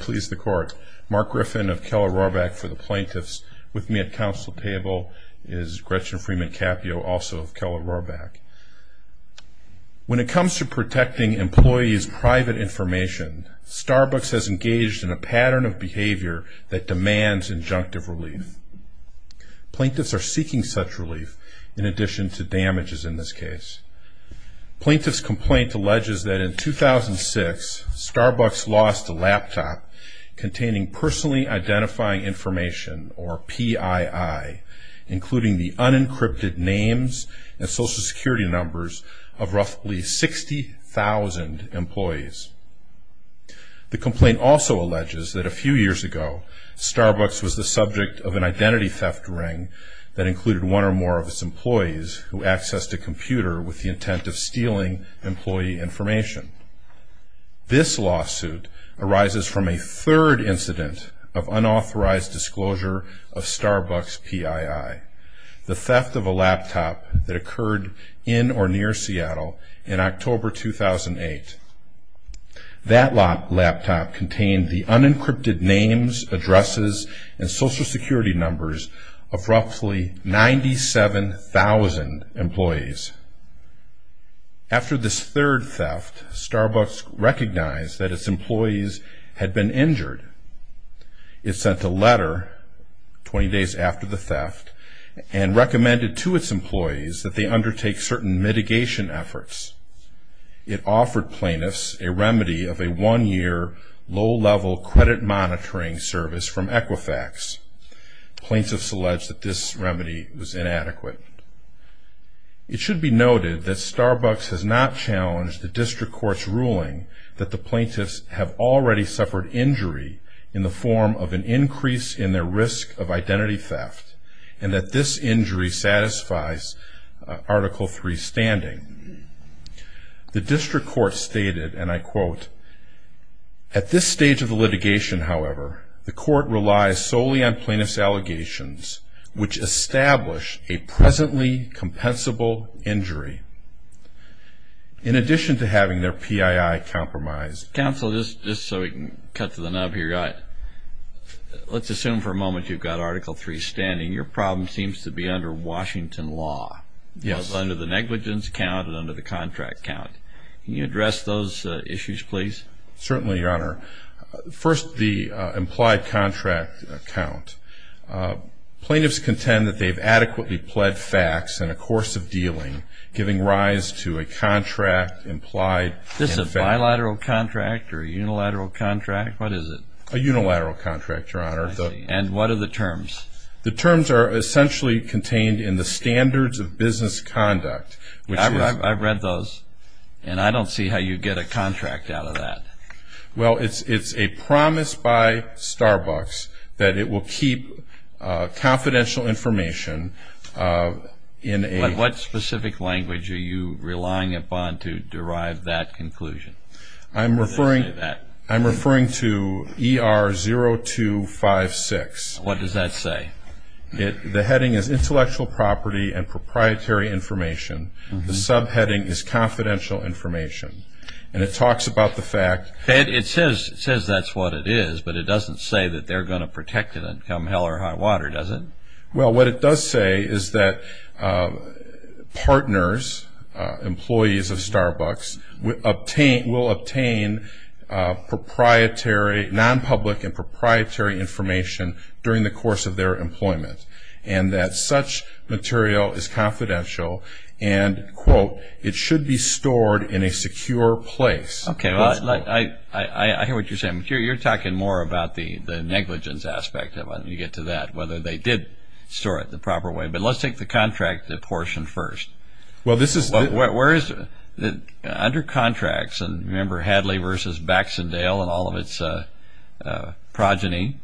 Please the court. Mark Griffin of Keller Rohrbach for the Plaintiffs with me at counsel table is Gretchen Freeman Capio also of Keller Rohrbach. When it comes to protecting employees private information Starbucks has engaged in a pattern of behavior that demands injunctive relief. Plaintiffs are seeking such relief in addition to damages in this case. Plaintiff's complaint alleges that in 2006 Starbucks lost a laptop containing personally identifying information or PII including the unencrypted names and social security numbers of roughly 60,000 employees. The complaint also alleges that a few years ago Starbucks was the subject of an identity theft ring that included one or more of its employees who accessed a computer with the intent of stealing employee information. This lawsuit arises from a third incident of unauthorized disclosure of Starbucks PII the theft of a laptop that occurred in or near Seattle in October 2008. That laptop contained the unencrypted names addresses and social security numbers of roughly 97,000 employees. After this third theft Starbucks recognized that its employees had been injured. It sent a letter 20 days after the theft and recommended to its employees that they undertake certain mitigation efforts. It offered plaintiffs a remedy of a one-year low-level credit monitoring service from Starbucks. This remedy was inadequate. It should be noted that Starbucks has not challenged the district court's ruling that the plaintiffs have already suffered injury in the form of an increase in their risk of identity theft and that this injury satisfies Article III standing. The district court stated and I quote, at this stage of the litigation however the court relies solely on establish a presently compensable injury in addition to having their PII compromised. Counsel just so we can cut to the nub here, let's assume for a moment you've got Article III standing. Your problem seems to be under Washington law. Yes. Under the negligence count and under the contract count. Can you address those issues please? Certainly your honor. First the implied contract count. Plaintiffs contend that they've adequately pled facts in a course of dealing giving rise to a contract implied. Is this a bilateral contract or a unilateral contract? What is it? A unilateral contract your honor. And what are the terms? The terms are essentially contained in the standards of business conduct. I've read those and I don't see how you get a contract out of that. Well it's a promise by Starbucks that it will keep confidential information in a. What specific language are you relying upon to derive that conclusion? I'm referring to ER 0256. What does that say? The heading is intellectual property and proprietary information. The subheading is confidential information. And it says that's what it is, but it doesn't say that they're going to protect it until hell or high water does it? Well what it does say is that partners, employees of Starbucks, will obtain proprietary, non-public and proprietary information during the course of their employment. And that such material is I hear what you're saying. You're talking more about the the negligence aspect of it when you get to that. Whether they did store it the proper way. But let's take the contract portion first. Well this is. Where is it? Under contracts and remember Hadley versus Baxendale and all of its progeny,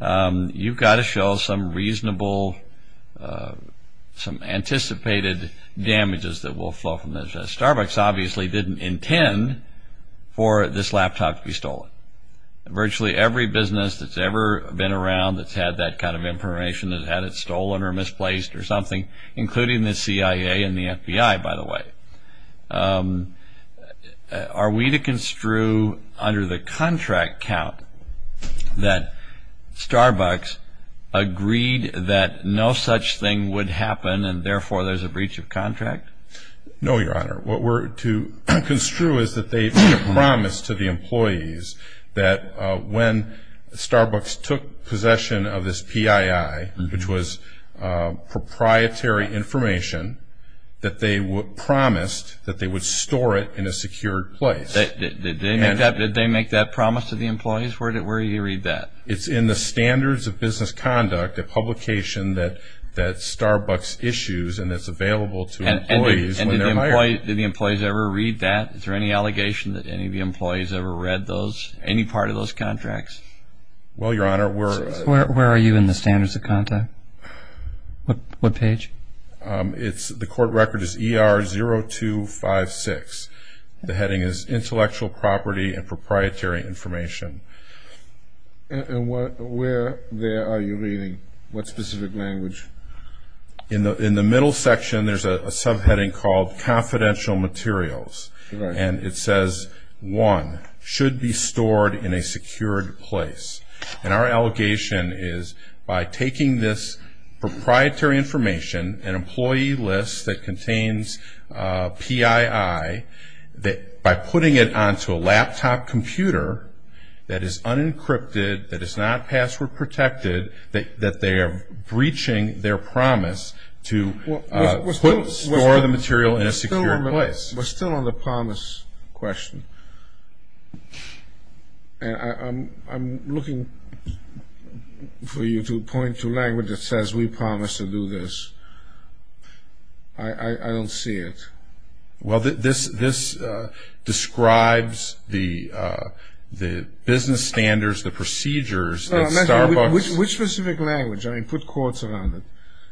you've got to show some reasonable, some anticipated damages that will flow from Starbucks obviously didn't intend for this laptop to be stolen. Virtually every business that's ever been around that's had that kind of information that had it stolen or misplaced or something, including the CIA and the FBI by the way. Are we to construe under the contract count that Starbucks agreed that no such thing would happen and therefore there's a breach of contract? No your honor. What we're to construe is that they've made a promise to the employees that when Starbucks took possession of this PII, which was proprietary information, that they were promised that they would store it in a secured place. Did they make that promise to the employees? Where do you read that? It's in the standards of business conduct, a publication that the employees ever read that? Is there any allegation that any of the employees ever read any part of those contracts? Well your honor, where are you in the standards of conduct? What page? The court record is ER 0256. The heading is intellectual property and proprietary information. And where there are you reading? What specific language? In the middle section there's a subheading called confidential materials. And it says one, should be stored in a secured place. And our allegation is by taking this proprietary information, an employee list that contains PII, that by putting it onto a laptop computer that is unencrypted, that is not password protected, that they are breaching their promise to store the material in a secure place. We're still on the promise question. I'm looking for you to point to language that says we promise to do this. I don't see it. Well this describes the business standards, the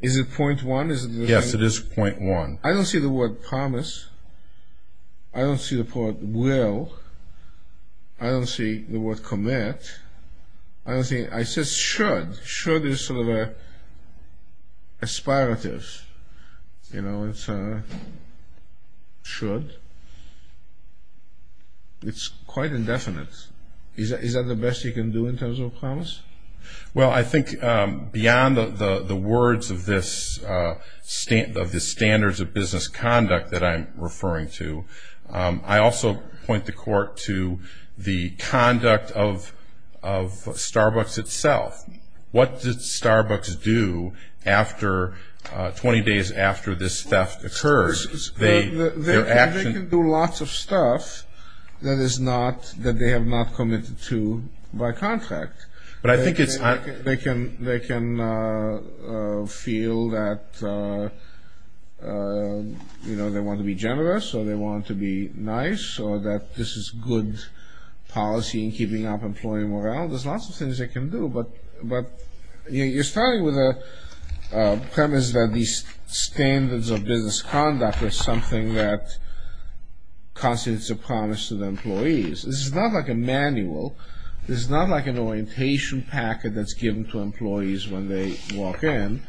Is it point one? Yes, it is point one. I don't see the word promise. I don't see the word will. I don't see the word commit. I don't see, I see should. Should is sort of an aspirative. You know, it's a should. It's quite indefinite. Is that the best you can do in terms of a promise? Well, I think beyond the words of this standards of business conduct that I'm referring to, I also point the court to the conduct of Starbucks itself. What did Starbucks do after, 20 days after this theft occurred? They can do lots of stuff that is not, that they do by contract. But I think it's... They can feel that, you know, they want to be generous or they want to be nice or that this is good policy in keeping up employee morale. There's lots of things they can do, but you're starting with a premise that these standards of business conduct is something that This is not like a manual. This is not like an orientation packet that's given to employees when they walk in.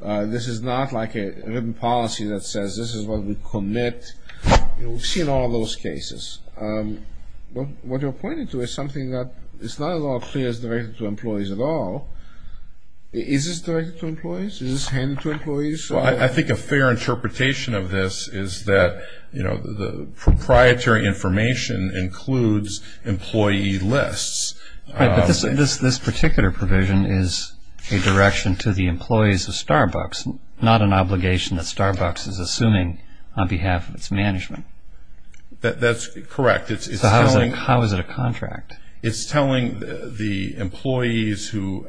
This is not like a written policy that says this is what we commit. You know, we've seen all those cases. What you're pointing to is something that is not at all clear as directed to employees at all. Is this directed to employees? Is this handed to employees? Well, I think a fair interpretation of this is that, you know, the proprietary information includes employee lists. Right, but this particular provision is a direction to the employees of Starbucks, not an obligation that Starbucks is assuming on behalf of its management. That's correct. So how is it a contract? It's telling the employees who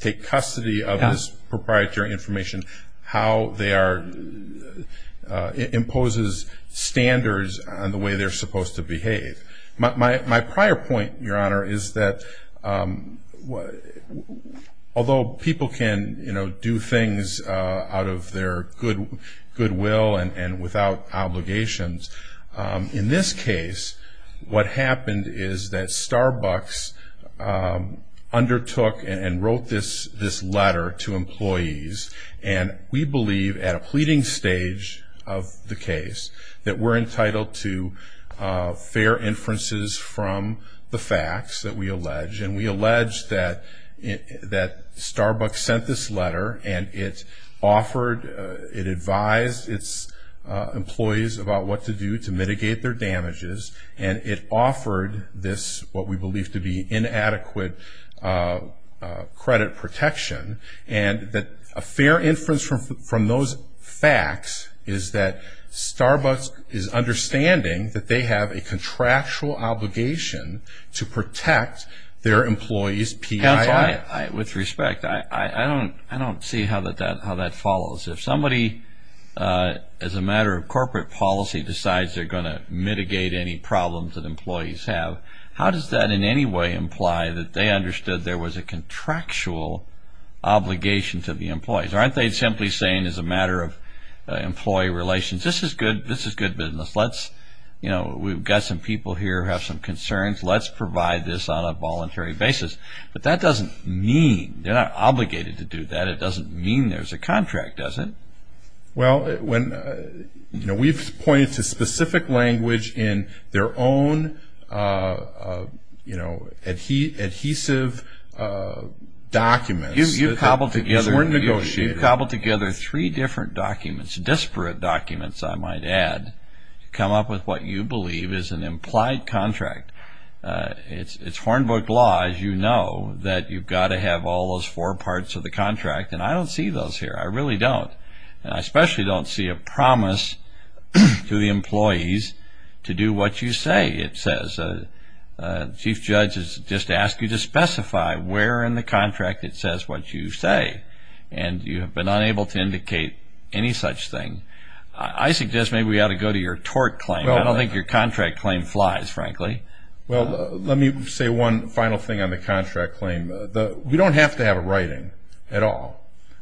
take custody of this proprietary information how they are... My prior point, Your Honor, is that although people can, you know, do things out of their goodwill and without obligations, in this case, what happened is that Starbucks undertook and wrote this letter to employees, and we believe at a pleading stage of the case that we're entitled to fair inferences from the facts that we allege, and we allege that Starbucks sent this letter and it offered, it advised its employees about what to do to mitigate their damages, and it offered this what we believe to be inadequate credit protection, and that a part of those facts is that Starbucks is understanding that they have a contractual obligation to protect their employees' PII. With respect, I don't see how that follows. If somebody, as a matter of corporate policy, decides they're going to mitigate any problems that employees have, how does that in any way imply that they understood there was a contractual obligation to the matter of employee relations? This is good business. Let's, you know, we've got some people here who have some concerns. Let's provide this on a voluntary basis. But that doesn't mean, they're not obligated to do that. It doesn't mean there's a contract, does it? Well, when, you know, we've pointed to specific language in their own, you know, adhesive documents that weren't negotiated. We've cobbled together three different documents, disparate documents, I might add, to come up with what you believe is an implied contract. It's Hornbook law, as you know, that you've got to have all those four parts of the contract, and I don't see those here. I really don't. And I especially don't see a promise to the employees to do what you say it says. The chief judge has just asked you to but not able to indicate any such thing. I suggest maybe we ought to go to your tort claim. I don't think your contract claim flies, frankly. Well, let me say one final thing on the contract claim. We don't have to have a writing at all.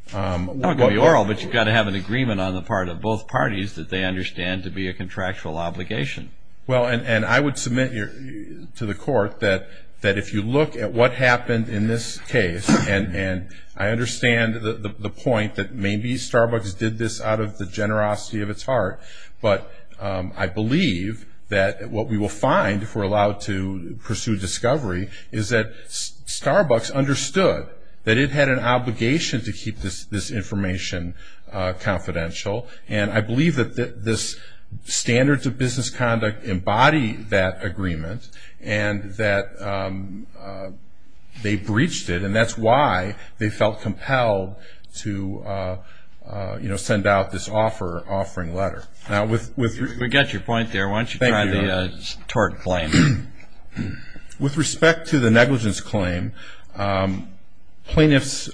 It's not going to be oral, but you've got to have an agreement on the part of both parties that they understand to be a contractual obligation. Well, and I would submit to the court that if you look at what happened in this case, and I that maybe Starbucks did this out of the generosity of its heart, but I believe that what we will find, if we're allowed to pursue discovery, is that Starbucks understood that it had an obligation to keep this information confidential, and I believe that this standards of business conduct embody that agreement, and that they breached it, and that's why they felt compelled to, you know, send out this offering letter. Now, with... We got your point there. Why don't you try the tort claim. With respect to the negligence claim, plaintiffs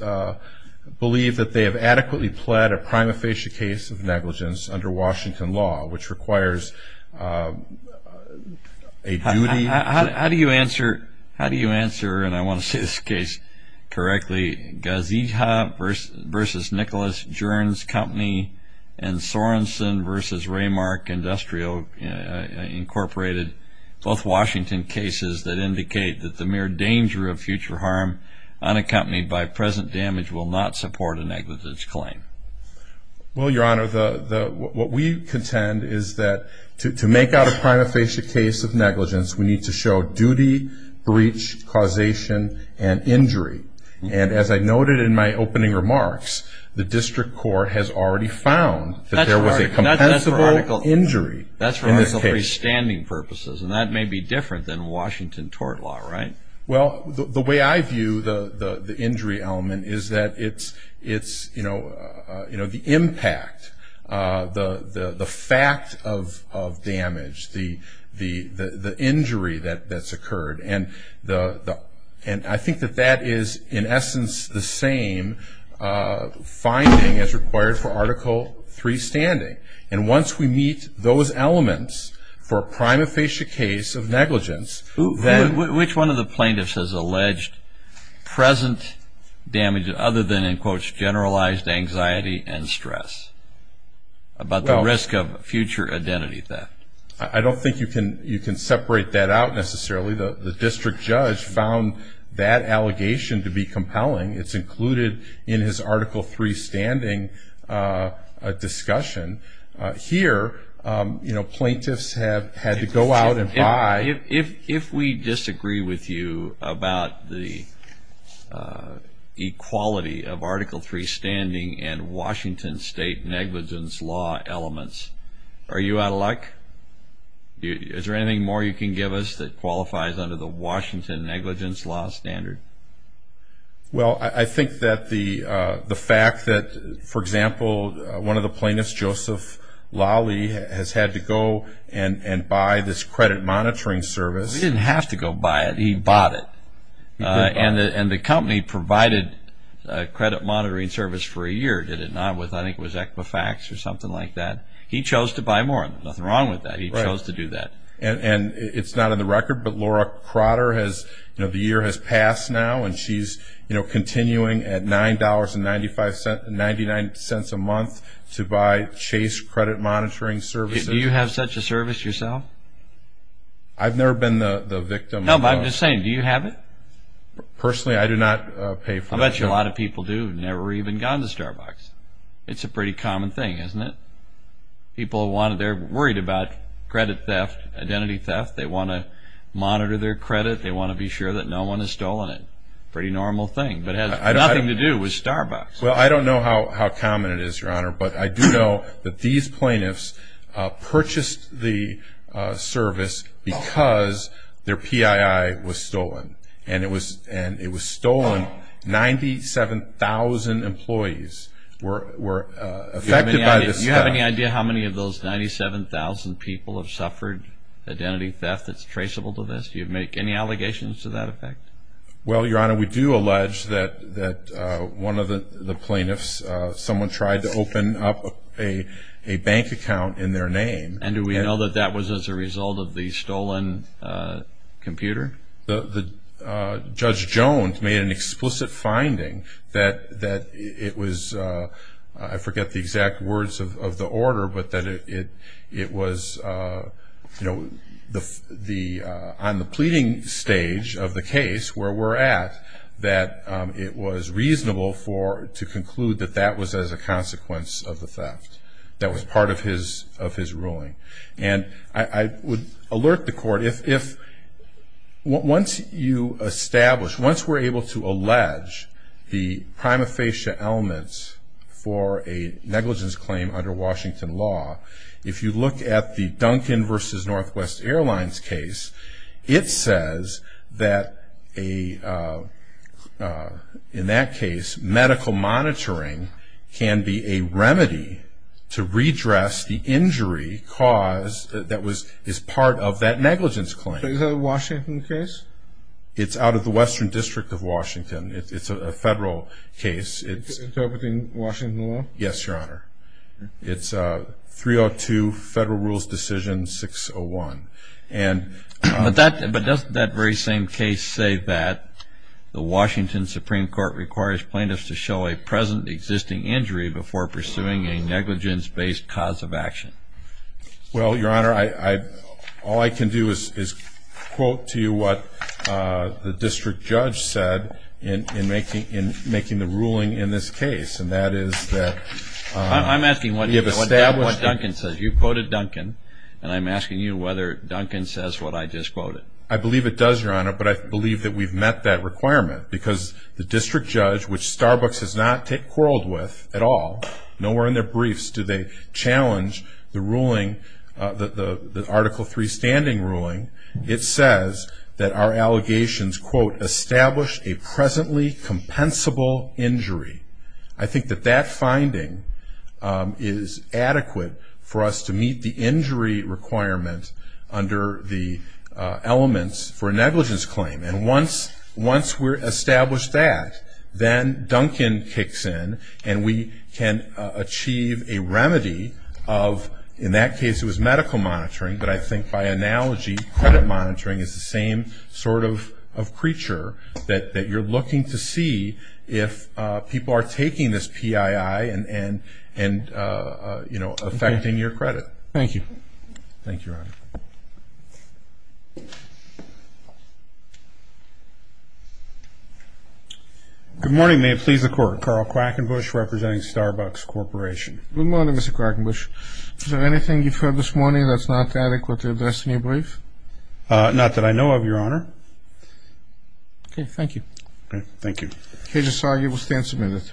believe that they have adequately pled a prima facie case of negligence under Washington law, which How do you answer, and I want to say this case correctly, Gazeeha versus Nicholas, Jerns Company, and Sorenson versus Raymark Industrial Incorporated, both Washington cases that indicate that the mere danger of future harm unaccompanied by present damage will not support a negligence claim? Well, Your Honor, what we contend is that to make out a prima facie case of breach, causation, and injury, and as I noted in my opening remarks, the district court has already found that there was a compensable injury in that case. That's for article 3 standing purposes, and that may be different than Washington tort law, right? Well, the way I view the injury element is that it's, you know, the impact, the fact of damage, the injury that's occurred, and I think that that is, in essence, the same finding as required for article 3 standing, and once we meet those elements for a prima facie case of negligence, then Which one of the plaintiffs has alleged present damage other than, in quotes, generalized anxiety and stress about the risk of future identity theft? I don't think you can separate that out, necessarily. The district judge found that allegation to be compelling. It's included in his article 3 standing discussion. Here, you know, plaintiffs have had to go out and buy If we disagree with you about the equality of article 3 standing and Washington state negligence law elements, are you out of luck? Is there anything more you can give us that qualifies under the Washington negligence law standard? Well, I think that the fact that, for example, one of the plaintiffs, Joseph Lawley, has had to go and buy this credit monitoring service. He didn't have to go buy it. He bought it, and the company provided credit monitoring service for a year. Did it not? I think it was Equifax or something like that. He chose to buy more. Nothing wrong with that. He chose to do that. And it's not on the record, but Laura Crotter has, you know, the year has passed now, and she's, you know, continuing at $9.99 a month to buy Chase credit monitoring services. Do you have such a service yourself? I've never been the victim. No, but I'm just saying, do you have it? Personally, I do not pay for it. I bet you a lot of people do. They've never even gone to Starbucks. It's a pretty common thing, isn't it? People want it. They're worried about credit theft, identity theft. They want to monitor their credit. They want to be sure that no one has stolen it. Pretty normal thing, but it has nothing to do with Starbucks. Well, I don't know how common it is, Your Honor, but I do know that these plaintiffs purchased the service because their PII was stolen, and it was stolen. 97,000 employees were affected by this. Do you have any idea how many of those 97,000 people have suffered identity theft that's traceable to this? Do you make any allegations to that effect? Well, Your Honor, we do allege that one of the plaintiffs, someone tried to open up a bank account in their name. And do we know that that was as a result of the stolen computer? The Judge Jones made an explicit finding that it was, I forget the exact words of the order, but that it was on the pleading stage of the case where we're at, that it was reasonable to conclude that that was as a consequence of the theft that was part of his ruling. And I would alert the court, once you establish, once we're able to allege the prima facie elements for a negligence claim under Washington law, if you look at the Duncan versus Northwest Airlines case, it says that a, in that case, medical monitoring can be a remedy to redress the injury cause that was, is part of that negligence claim. Is that a Washington case? It's out of the Western District of Washington. It's a federal case. It's interpreting Washington law? Yes, Your Honor. It's a 302 Federal Rules Decision 601. And, but that, but doesn't that very same case say that the Washington Supreme Court requires plaintiffs to show a present existing injury before pursuing a negligence based cause of action? Well, Your Honor, I, I, all I can do is, is quote to you what the district judge said in, in making, in making the ruling in this case. And that is that, I'm asking what you have established, what Duncan says. You quoted Duncan and I'm asking you whether Duncan says what I just quoted. I believe it does, Your Honor, but I believe that we've met that requirement because the district judge, which Starbucks has not take quarreled with at all, nowhere in their briefs, do they challenge the ruling, the, the, the established a presently compensable injury. I think that that finding is adequate for us to meet the injury requirement under the elements for negligence claim. And once, once we're established that, then Duncan kicks in and we can achieve a remedy of, in that case it was medical monitoring, but I think by analogy, credit monitoring is the same sort of, of creature that, that you're looking to see if people are taking this PII and, and, and you know, affecting your credit. Thank you. Thank you, Your Honor. Good morning. May it please the court. Carl Quackenbush representing Starbucks Corporation. Good morning, Mr. Quackenbush. Is there anything you've heard this morning that's not adequate to address in your brief? Uh, not that I know of, Your Honor. Okay. Thank you. Okay. Thank you. Cage Asagi will stand submitted.